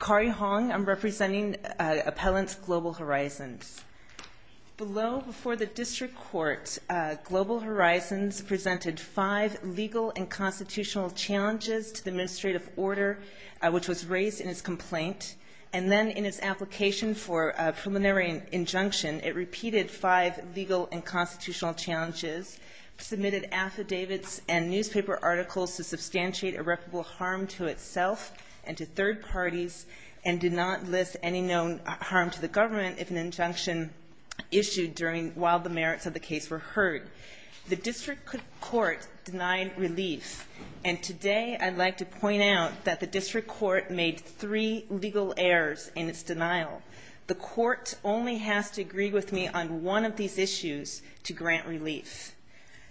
Kari Hong, I'm representing Appellants Global Horizons. Below, before the district court, Global Horizons presented five legal and constitutional challenges to the administrative order, which was raised in its complaint. And then in its application for a preliminary injunction, it repeated five legal and constitutional challenges, submitted affidavits and newspaper articles to substantiate irreparable harm to itself and to third parties, and did not list any known harm to the government if an injunction issued during while the merits of the case were heard. The district court denied relief. And today I'd like to point out that the district court made three legal errors in its denial. The court only has to agree with me on one of these issues to grant relief.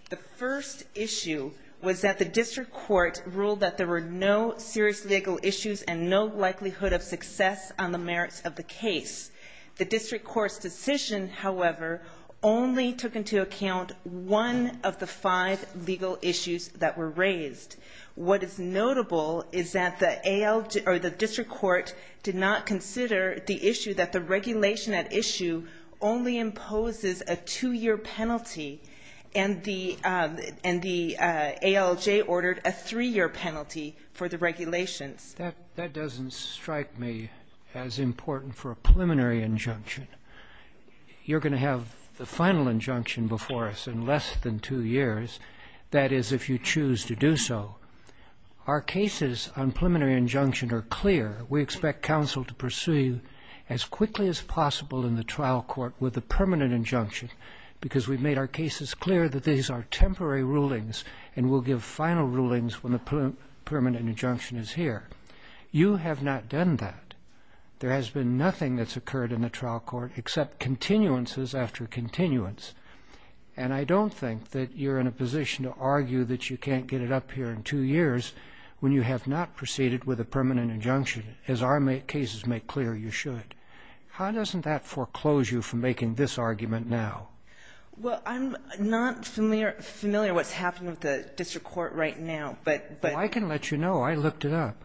The first issue was that the district court ruled that there were no serious legal issues and no likelihood of success on the merits of the case. The district court's decision, however, only took into account one of the five legal issues that were raised. What is notable is that the ALJ, or the district court did not consider the issue that the regulation at issue only imposes a two-year penalty. And the ALJ ordered a three-year penalty for the regulations. That doesn't strike me as important for a preliminary injunction. You're gonna have the final injunction before us in less than two years, that is if you choose to do so. Our cases on preliminary injunction are clear. We expect counsel to pursue you as quickly as possible in the trial court with a permanent injunction because we've made our cases clear that these are temporary rulings and we'll give final rulings when the permanent injunction is here. You have not done that. There has been nothing that's occurred in the trial court except continuances after continuance. And I don't think that you're in a position to argue that you can't get it up here in two years when you have not proceeded with a permanent injunction as our cases make clear you should. How doesn't that foreclose you from making this argument now? Well, I'm not familiar what's happening with the district court right now, but- I can let you know. I looked it up.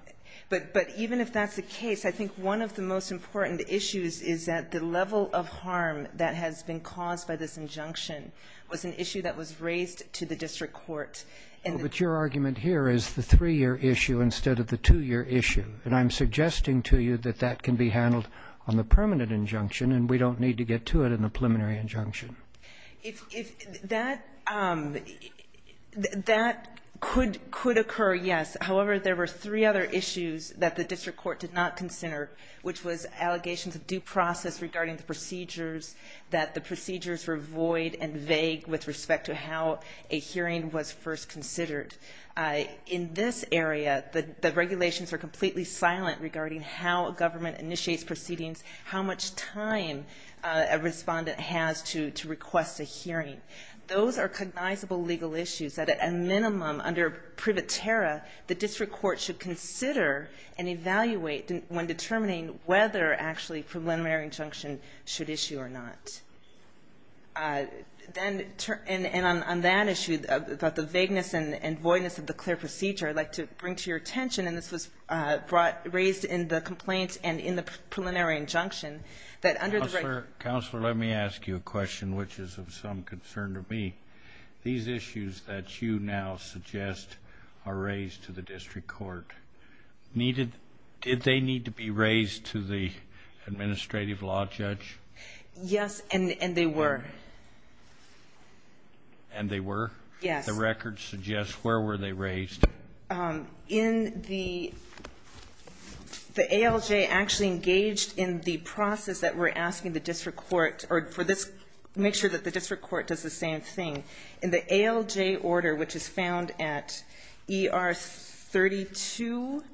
But even if that's the case, I think one of the most important issues is that the level of harm that has been caused by this injunction was an issue that was raised to the district court. But your argument here is the three-year issue instead of the two-year issue. And I'm suggesting to you that that can be handled on the permanent injunction and we don't need to get to it in the preliminary injunction. If that could occur, yes. However, there were three other issues that the district court did not consider, which was allegations of due process regarding the procedures, that the procedures were void and vague with respect to how a hearing was first considered. In this area, the regulations are completely silent regarding how a government initiates proceedings, how much time a respondent has to request a hearing. Those are cognizable legal issues that at a minimum, under privatera, the district court should consider and evaluate when determining whether, actually, a preliminary injunction should issue or not. And on that issue about the vagueness and voidness of the clear procedure, I'd like to bring to your attention, and this was raised in the complaint and in the preliminary injunction, that under the record... Counselor, let me ask you a question which is of some concern to me. These issues that you now suggest are raised to the district court. Did they need to be raised to the administrative law judge? Yes, and they were. And they were? Yes. The record suggests, where were they raised? In the... The ALJ actually engaged in the process that we're asking the district court, or for this, make sure that the district court does the same thing. In the ALJ order, which is found at ER 32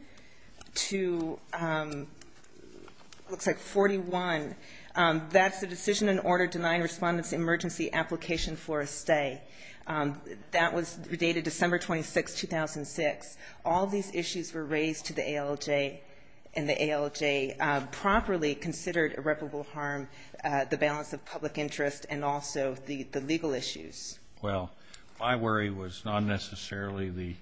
to... Looks like 41. That's the decision and order denying respondents emergency application for a stay. That was dated December 26, 2006. All these issues were raised to the ALJ, and the ALJ properly considered irreparable harm, the balance of public interest, and also the legal issues. Well, my worry was not necessarily the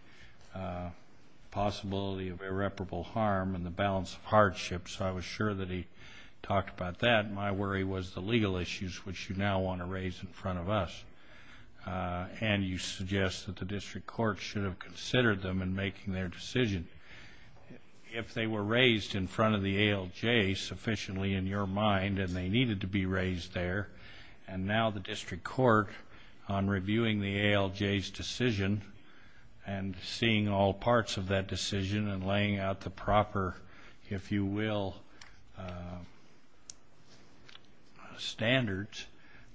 possibility of irreparable harm and the balance of hardship, so I was sure that he talked about that. My worry was the legal issues, which you now want to raise in front of us. And you suggest that the district court should have considered them in making their decision. If they were raised in front of the ALJ sufficiently in your mind, and they needed to be raised there, and now the district court, on reviewing the ALJ's decision, and seeing all parts of that decision, and laying out the proper, if you will, standards,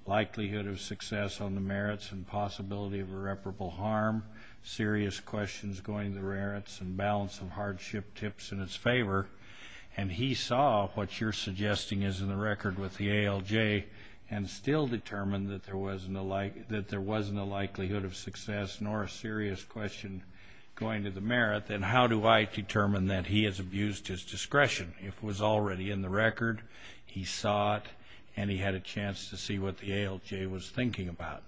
likelihood of success on the merits and possibility of irreparable harm, serious questions going to the merits, and balance of hardship tips in its favor, and he saw what you're suggesting is in the record with the ALJ, and still determined that there wasn't a likelihood of success, nor a serious question going to the merit, then how do I determine that he has abused his discretion? If it was already in the record, he saw it, and he had a chance to see what the ALJ was thinking about.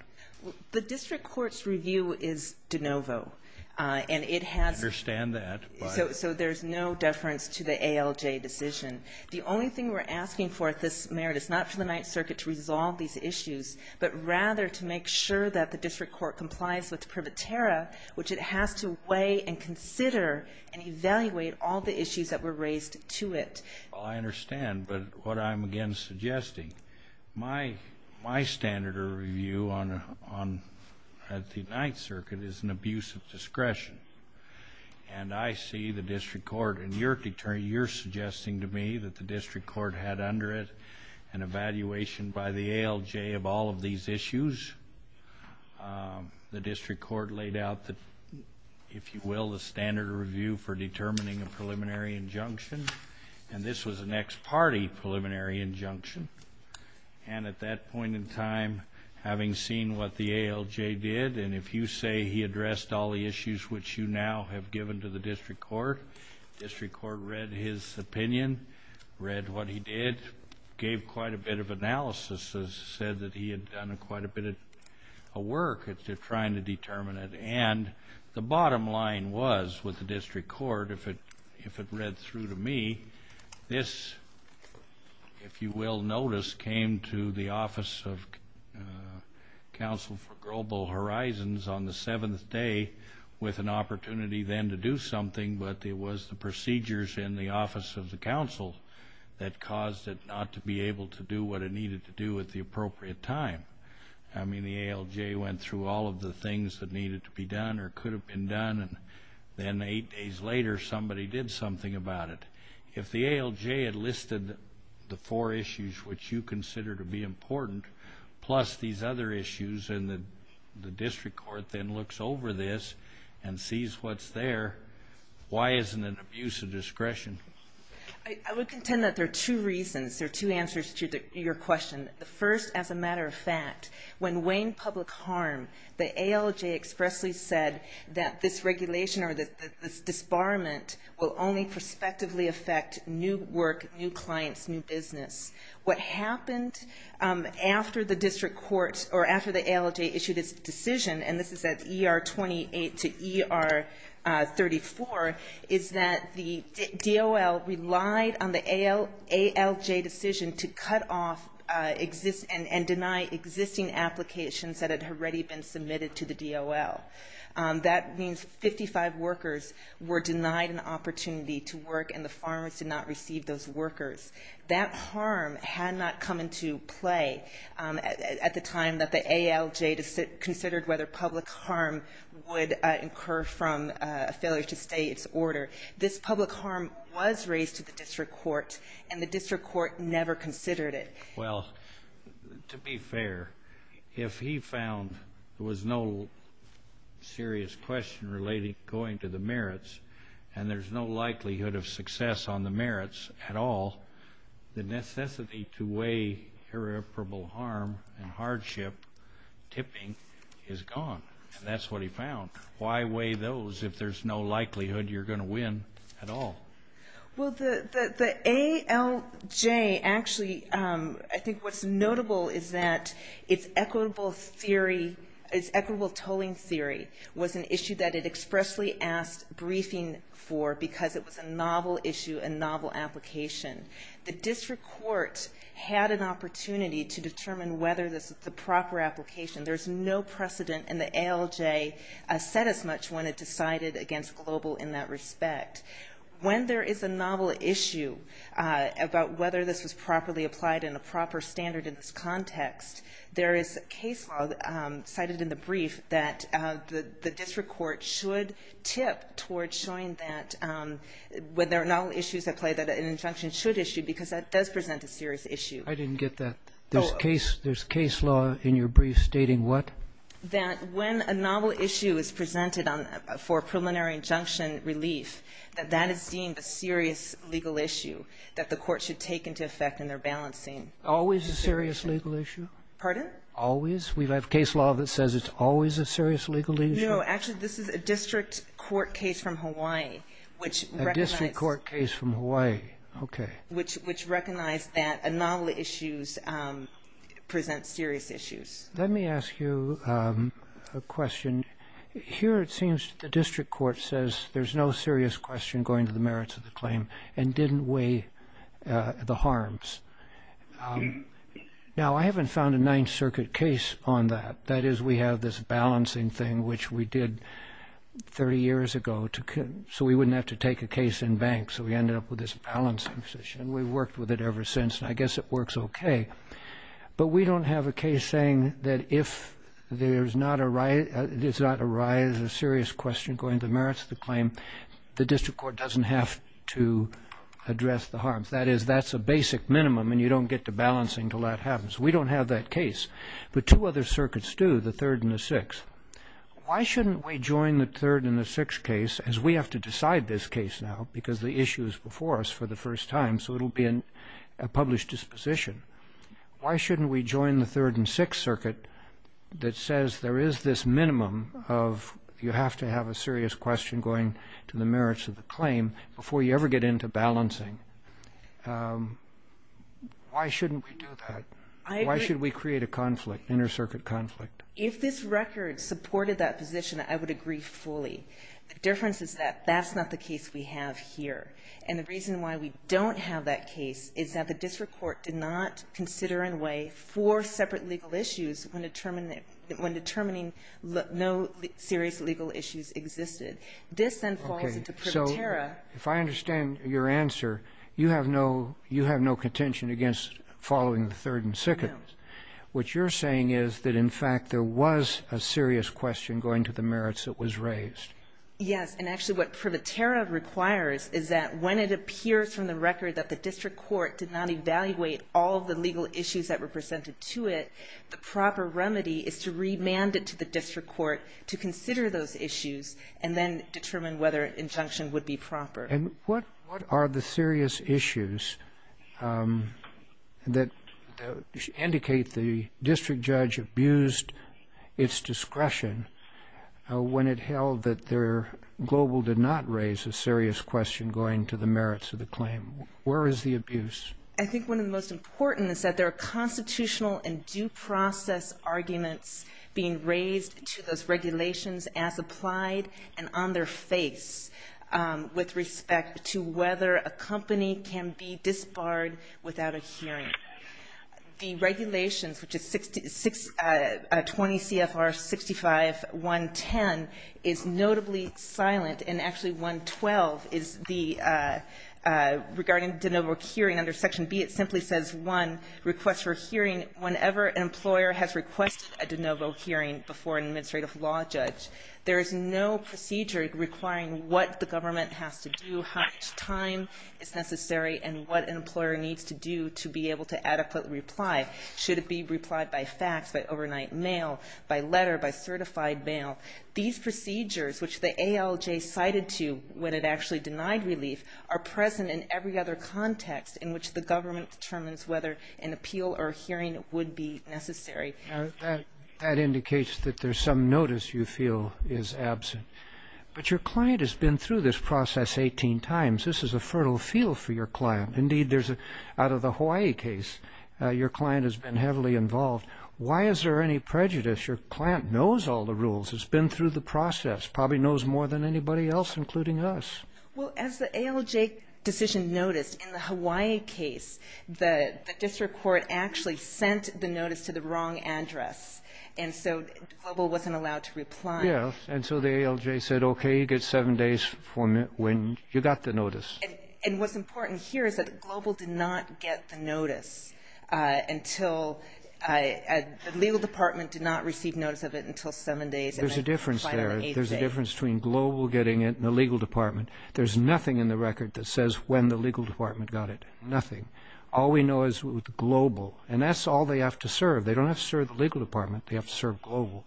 The district court's review is de novo, and it has- I understand that, but- So there's no deference to the ALJ decision. The only thing we're asking for at this merit is not for the Ninth Circuit to resolve these issues, but rather to make sure that the district court complies with Privatera, which it has to weigh and consider and evaluate all the issues that were raised to it. Well, I understand, but what I'm, again, suggesting, my standard of review at the Ninth Circuit is an abuse of discretion, and I see the district court, and you're suggesting to me that the district court had under it an evaluation by the ALJ of all of these issues. The district court laid out the, if you will, the standard review for determining a preliminary injunction, and this was an ex parte preliminary injunction. And at that point in time, having seen what the ALJ did, and if you say he addressed all the issues which you now have given to the district court, district court read his opinion, read what he did, gave quite a bit of analysis, has said that he had done quite a bit of work at trying to determine it, and the bottom line was with the district court, if it read through to me, this, if you will notice, came to the Office of Council for Global Horizons on the seventh day with an opportunity then to do something, but it was the procedures in the Office of the Council that caused it not to be able to do what it needed to do at the appropriate time. I mean, the ALJ went through all of the things that needed to be done or could have been done, and then eight days later, somebody did something about it. If the ALJ had listed the four issues which you consider to be important, plus these other issues, and the district court then looks over this and sees what's there, why isn't it abuse of discretion? I would contend that there are two reasons, there are two answers to your question. First, as a matter of fact, when weighing public harm, the ALJ expressly said that this regulation or this disbarment will only prospectively affect new work, new clients, new business. What happened after the district court, or after the ALJ issued its decision, and this is at ER 28 to ER 34, is that the DOL relied on the ALJ decision to cut off and deny existing applications that had already been submitted to the DOL. That means 55 workers were denied an opportunity to work and the farmers did not receive those workers. That harm had not come into play at the time that the ALJ considered whether public harm would incur from a failure to stay its order. This public harm was raised to the district court and the district court never considered it. Well, to be fair, if he found there was no serious question relating going to the merits and there's no likelihood of success on the merits at all, the necessity to weigh irreparable harm and hardship tipping is gone. And that's what he found. Why weigh those if there's no likelihood you're going to win at all? Well, the ALJ actually, I think what's notable is that its equitable theory, its equitable tolling theory was an issue that it expressly asked briefing for because it was a novel issue and novel application. The district court had an opportunity to determine whether this was the proper application. There's no precedent and the ALJ said as much when it decided against global in that respect. When there is a novel issue about whether this was properly applied in a proper standard in this context, there is case law cited in the brief that the district court should tip towards showing that when there are novel issues at play that an injunction should issue because that does present a serious issue. I didn't get that. There's case law in your brief stating what? That when a novel issue is presented for preliminary injunction relief, that that is deemed a serious legal issue that the court should take into effect in their balancing consideration. Always a serious legal issue? Pardon? Always? We have case law that says it's always a serious legal issue? No, actually this is a district court case from Hawaii which recognized- A district court case from Hawaii, okay. Which recognized that a novel issues present serious issues. Let me ask you a question. Here it seems the district court says there's no serious question going to the merits of the claim and didn't weigh the harms. Now I haven't found a Ninth Circuit case on that. That is we have this balancing thing which we did 30 years ago so we wouldn't have to take a case in bank so we ended up with this balancing position. We've worked with it ever since and I guess it works okay. But we don't have a case saying that if there's not a right, it's not a right, it's a serious question going to the merits of the claim, the district court doesn't have to address the harms. That is that's a basic minimum and you don't get to balancing until that happens. We don't have that case. But two other circuits do, the Third and the Sixth. Why shouldn't we join the Third and the Sixth case as we have to decide this case now because the issue is before us for the first time so it'll be a published disposition. Why shouldn't we join the Third and Sixth Circuit that says there is this minimum of you have to have a serious question going to the merits of the claim before you ever get into balancing? Why shouldn't we do that? Why should we create a conflict, inter-circuit conflict? If this record supported that position, I would agree fully. The difference is that that's not the case we have here. And the reason why we don't have that case is that the district court did not consider in a way four separate legal issues when determining no serious legal issues existed. This then falls into privatera. If I understand your answer, you have no contention against following the Third and Sixth. What you're saying is that in fact, there was a serious question going to the merits that was raised. Yes, and actually what privatera requires is that when it appears from the record that the district court did not evaluate all of the legal issues that were presented to it, the proper remedy is to remand it to the district court to consider those issues and then determine whether injunction would be proper. And what are the serious issues that indicate the district judge abused its discretion when it held that Global did not raise a serious question going to the merits of the claim? Where is the abuse? I think one of the most important is that there are constitutional and due process arguments being raised to those regulations as applied and on their face with respect to whether a company can be disbarred without a hearing. The regulations, which is 20 CFR 65.110 is notably silent and actually 112 is the, regarding de novo curing under section B, it simply says one request for hearing whenever an employer has requested a de novo hearing before an administrative law judge. There is no procedure requiring what the government has to do, how much time is necessary and what an employer needs to do to be able to adequately reply. Should it be replied by fax, by overnight mail, by letter, by certified mail? These procedures, which the ALJ cited to when it actually denied relief are present in every other context in which the government determines whether an appeal or hearing would be necessary. That indicates that there's some notice you feel is absent, but your client has been through this process 18 times. This is a fertile field for your client. Indeed, there's a, out of the Hawaii case, your client has been heavily involved. Why is there any prejudice? Your client knows all the rules, has been through the process, probably knows more than anybody else, including us. Well, as the ALJ decision noticed in the Hawaii case, the district court actually sent the notice to the wrong address. And so Global wasn't allowed to reply. Yeah, and so the ALJ said, okay, you get seven days for when you got the notice. And what's important here is that Global did not get the notice until, the legal department did not receive notice of it until seven days. There's a difference there. There's a difference between Global getting it and the legal department. There's nothing in the record that says when the legal department got it, nothing. All we know is with Global, and that's all they have to serve. They don't have to serve the legal department. They have to serve Global.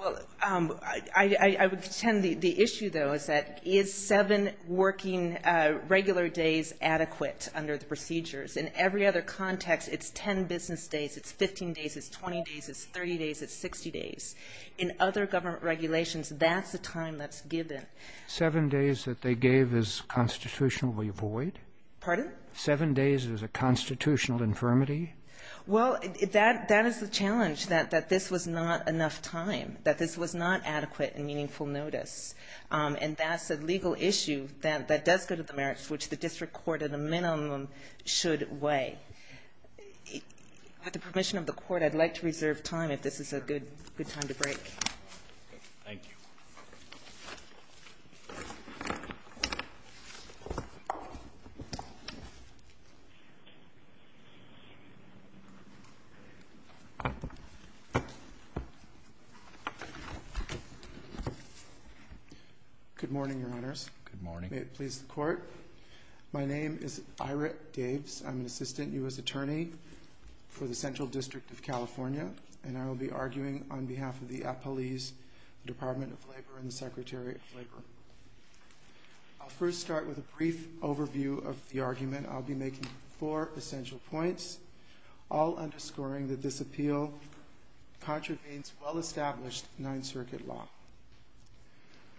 Well, I would pretend the issue though, is that is seven working regular days adequate under the procedures? In every other context, it's 10 business days. It's 15 days, it's 20 days, it's 30 days, it's 60 days. In other government regulations, that's the time that's given. Seven days that they gave is constitutionally void? Pardon? Seven days is a constitutional infirmity? Well, that is the challenge, that this was not enough time, that this was not adequate and meaningful notice. And that's a legal issue that does go to the merits, which the district court at a minimum should weigh. With the permission of the court, I'd like to reserve time if this is a good time to break. Thank you. Thank you. Good morning, your honors. Good morning. May it please the court. My name is Ira Daves. I'm an Assistant U.S. Attorney for the Central District of California. And I will be arguing on behalf of the Appalese Department of Labor and the Secretary of Labor. I'll first start with a brief overview of the argument. I'll be making four essential points, all underscoring that this appeal contravenes well-established Ninth Circuit law.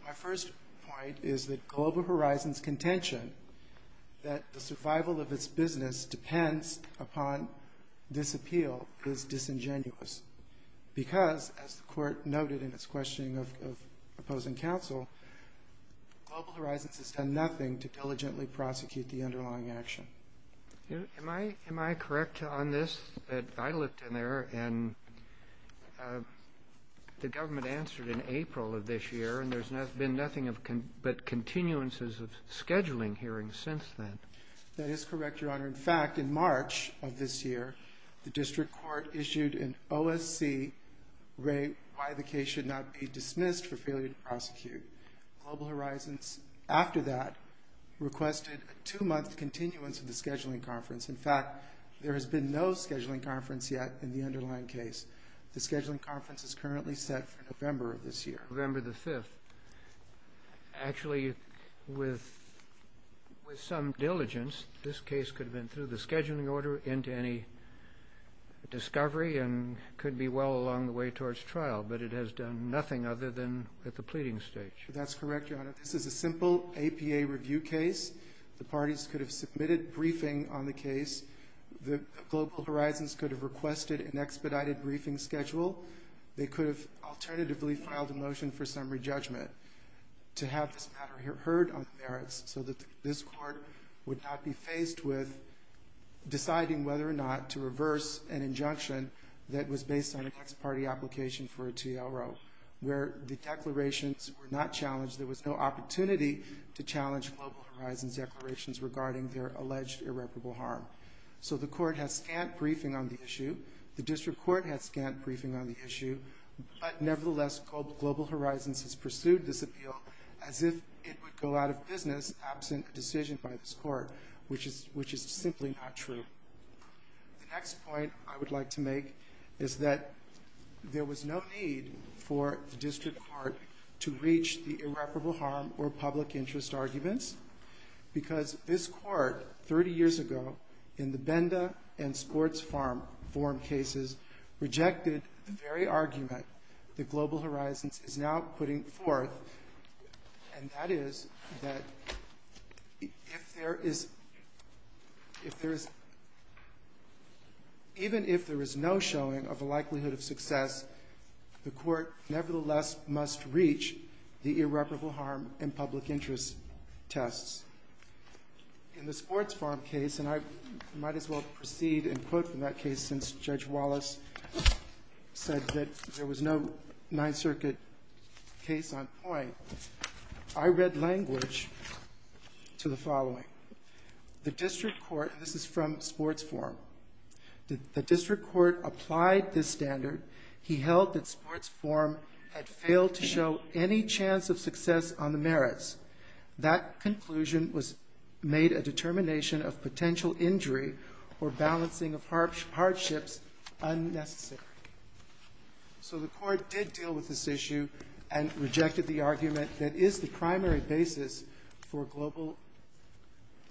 My first point is that Global Horizons' contention that the survival of its business depends upon this appeal is disingenuous. Because, as the court noted in its questioning of opposing counsel, Global Horizons has done nothing to diligently prosecute the underlying action. Am I correct on this? I looked in there and the government answered in April of this year and there's been nothing but continuances of scheduling hearings since then. That is correct, your honor. In fact, in March of this year, the district court issued an OSC rate why the case should not be dismissed for failure to prosecute. Global Horizons, after that, requested a two-month continuance of the scheduling conference. In fact, there has been no scheduling conference yet in the underlying case. The scheduling conference is currently set for November of this year. November the fifth. Actually, with some diligence, this case could have been through the scheduling order into any discovery and could be well along the way towards trial, but it has done nothing other than at the pleading stage. That's correct, your honor. This is a simple APA review case. The parties could have submitted briefing on the case. The Global Horizons could have requested an expedited briefing schedule. They could have alternatively filed a motion for summary judgment to have this matter heard on the merits so that this court would not be faced with deciding whether or not to reverse an injunction that was based on a next party application for a TRO where the declarations were not challenged. There was no opportunity to challenge Global Horizons declarations regarding their alleged irreparable harm. So the court has scant briefing on the issue. The district court has scant briefing on the issue, but nevertheless, Global Horizons has pursued this appeal as if it would go out of business absent a decision by this court, which is simply not true. The next point I would like to make is that there was no need for the district court to reach the irreparable harm or public interest arguments because this court, 30 years ago, in the Benda and Sports Forum cases, rejected the very argument that Global Horizons is now putting forth, and that is that if there is, even if there is no showing of a likelihood of success, the court nevertheless must reach the irreparable harm and public interest tests. In the Sports Forum case, and I might as well proceed and quote from that case since Judge Wallace said that there was no Ninth Circuit case on point, I read language to the following. The district court, and this is from Sports Forum, the district court applied this standard. He held that Sports Forum had failed to show any chance of success on the merits. That conclusion was made a determination of potential injury or balancing of hardships unnecessary. So the court did deal with this issue and rejected the argument that is the primary basis for Global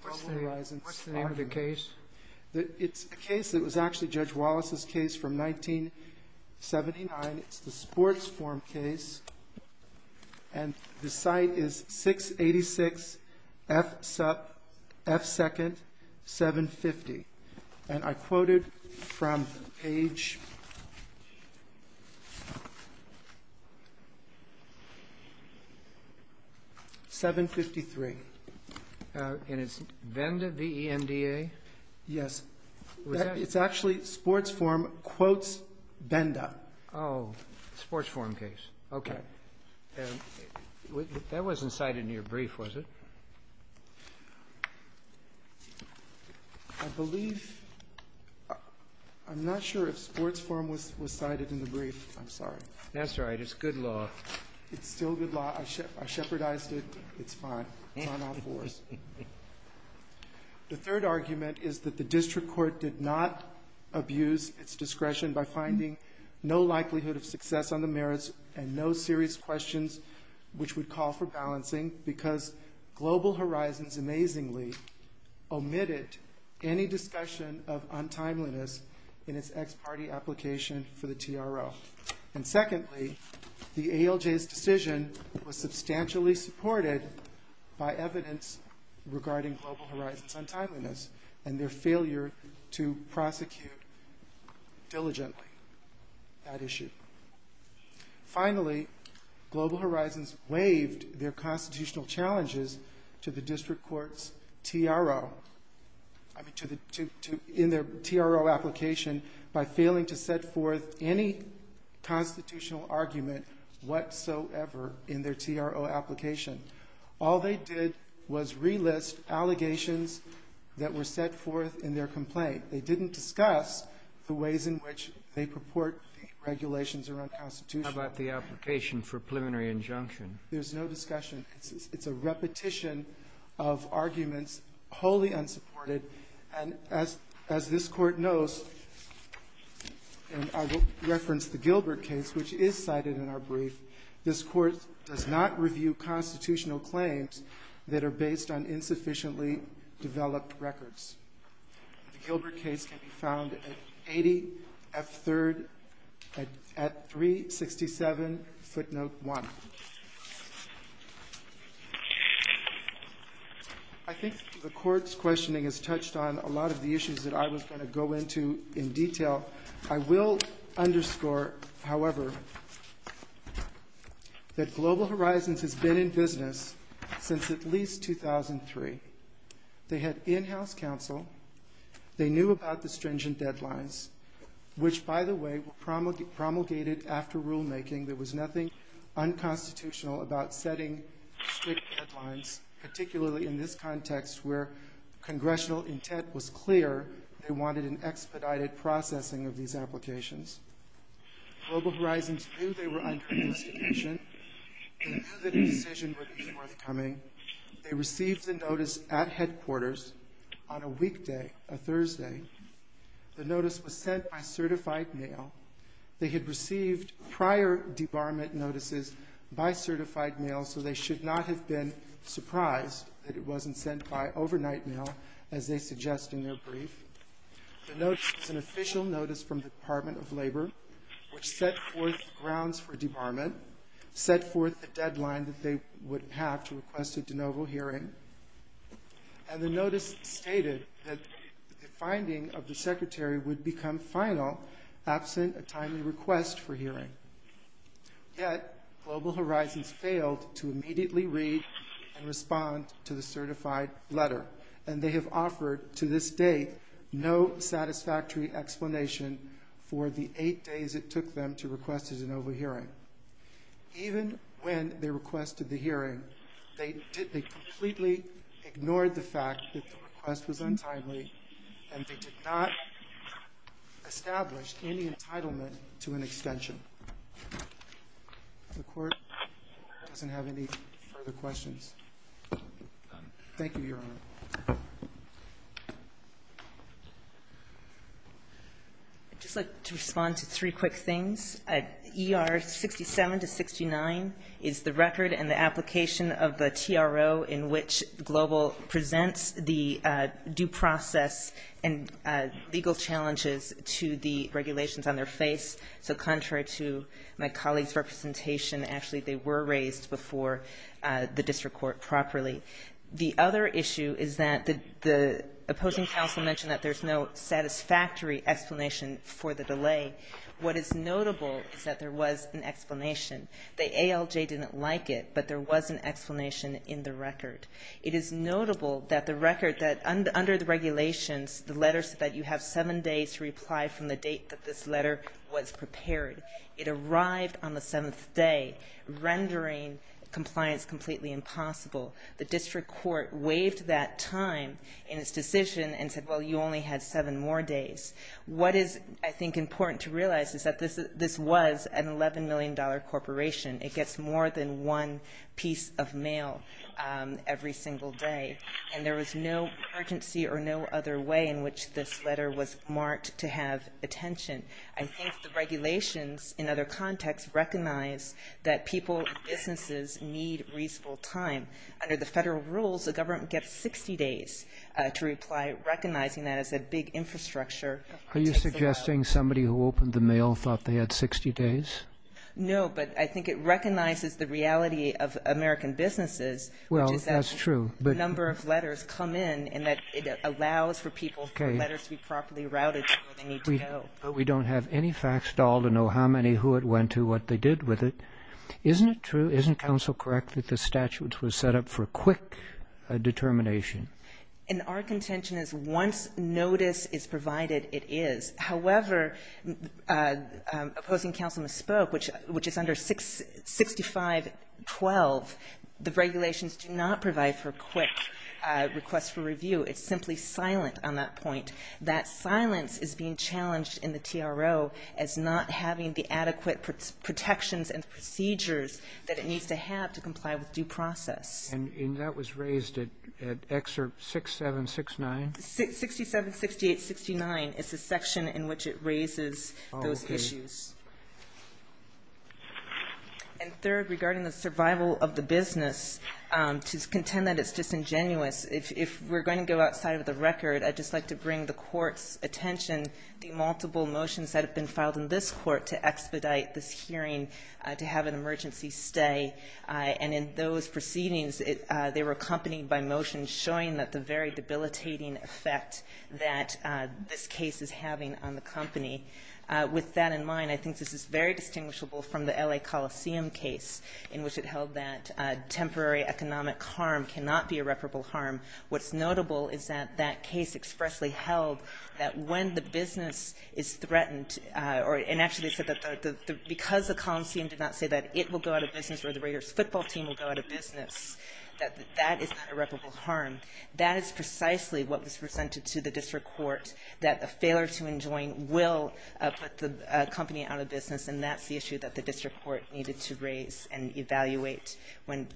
Horizons argument. What's the name of the case? It's a case that was actually Judge Wallace's case from 1979. It's the Sports Forum case, and the site is 686 F2nd, 750, and I quoted from page... 753. And it's Benda, B-E-N-D-A? Yes, it's actually Sports Forum quotes Benda. Oh, Sports Forum case. Okay. That wasn't cited in your brief, was it? I believe, I'm not sure if Sports Forum was cited in the brief, I'm sorry. That's all right, it's good law. It's still good law, I shepherdized it, it's fine. It's on all fours. The third argument is that the district court did not abuse its discretion by finding no likelihood of success on the merits and no serious questions which would call for balancing because Global Horizons amazingly omitted any discussion of untimeliness in its ex-party application for the TRO. And secondly, the ALJ's decision was substantially supported by evidence regarding Global Horizons' untimeliness and their failure to prosecute diligently that issue. Finally, Global Horizons waived their constitutional challenges to the district court's TRO, in their TRO application by failing to set forth any constitutional argument whatsoever in their TRO application. All they did was relist allegations that were set forth in their complaint. They didn't discuss the ways in which they purport the regulations are unconstitutional. How about the application for preliminary injunction? There's no discussion. It's a repetition of arguments, wholly unsupported. And as this court knows, and I will reference the Gilbert case, which is cited in our brief, this court does not review constitutional claims that are based on insufficiently developed records. The Gilbert case can be found at 80 F3rd at 367 footnote one. I think the court's questioning has touched on a lot of the issues that I was gonna go into in detail. I will underscore, however, that Global Horizons has been in business since at least 2003. They had in-house counsel. They knew about the stringent deadlines, which, by the way, were promulgated after rulemaking. There was nothing unconstitutional about setting strict deadlines, particularly in this context where congressional intent was clear. They wanted an expedited processing of these applications. Global Horizons knew they were under investigation. They knew that a decision would be forthcoming. They received the notice at headquarters on a weekday, a Thursday. The notice was sent by certified mail. They had received prior debarment notices by certified mail, so they should not have been surprised that it wasn't sent by overnight mail, as they suggest in their brief. The notice was an official notice from the Department of Labor, which set forth grounds for debarment, set forth the deadline that they would have to request a de novo hearing, and the notice stated that the finding of the secretary would become final absent a timely request for hearing. Yet, Global Horizons failed to immediately read and respond to the certified letter, and they have offered to this date no satisfactory explanation for the eight days it took them to request a de novo hearing. Even when they requested the hearing, they completely ignored the fact that the request was untimely, and they did not establish any entitlement to an extension. The court doesn't have any further questions. Thank you, Your Honor. Thank you. I'd just like to respond to three quick things. ER 67 to 69 is the record and the application of the TRO in which Global presents the due process and legal challenges to the regulations on their face, so contrary to my colleague's representation, actually they were raised before the district court properly. The other issue is that the opposing counsel mentioned that there's no satisfactory explanation for the delay. What is notable is that there was an explanation. The ALJ didn't like it, but there was an explanation in the record. It is notable that the record, that under the regulations, the letters that you have seven days to reply from the date that this letter was prepared, it arrived on the seventh day, rendering compliance completely impossible. The district court waived that time in its decision and said, well, you only had seven more days. What is, I think, important to realize is that this was an $11 million corporation. It gets more than one piece of mail every single day, and there was no urgency or no other way in which this letter was marked to have attention. I think the regulations, in other contexts, recognize that people and businesses need reasonable time. Under the federal rules, the government gets 60 days to reply, recognizing that as a big infrastructure. Are you suggesting somebody who opened the mail thought they had 60 days? No, but I think it recognizes the reality of American businesses, which is that a number of letters come in and that it allows for people's letters But we don't have any facts at all to know how many, who it went to, what they did with it. Isn't it true, isn't counsel correct that the statutes were set up for quick determination? And our contention is once notice is provided, it is. However, opposing counsel misspoke, which is under 6512, the regulations do not provide for quick requests for review. It's simply silent on that point. That silence is being challenged in the TRO as not having the adequate protections and procedures that it needs to have to comply with due process. And that was raised at excerpt 6769? 676869 is the section in which it raises those issues. And third, regarding the survival of the business, to contend that it's disingenuous, if we're going to go outside of the record, I'd just like to bring the court's attention, the multiple motions that have been filed in this court to expedite this hearing, to have an emergency stay. And in those proceedings, they were accompanied by motion showing that the very debilitating effect that this case is having on the company. With that in mind, I think this is very distinguishable from the LA Coliseum case, in which it held that temporary economic harm cannot be irreparable harm. What's notable is that that case expressly held that when the business is threatened, and actually said that because the Coliseum did not say that it will go out of business or the Raiders football team will go out of business, that that is irreparable harm. That is precisely what was presented to the district court, that a failure to enjoin will put the company out of business and that's the issue that the district court needed to raise and evaluate when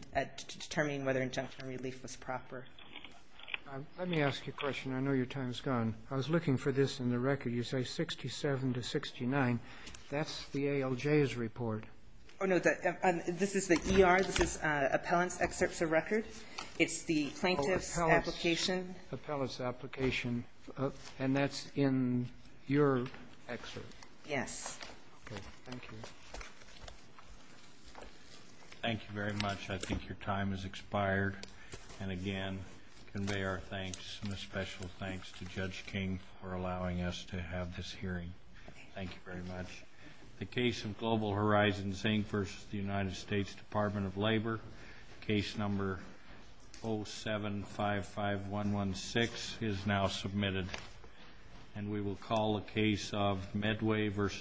determining whether injunction relief was proper. Let me ask you a question. I know your time's gone. I was looking for this in the record. You say 67 to 69. That's the ALJ's report. Oh, no, this is the ER. This is appellant's excerpts of record. It's the plaintiff's application. Appellant's application. And that's in your excerpt. Yes. Thank you. Thank you very much. I think your time has expired. And again, convey our thanks and a special thanks to Judge King for allowing us to have this hearing. Thank you very much. The case of Global Horizons, Zing versus the United States Department of Labor, case number 0755116 is now submitted. And we will call the case of Medway versus.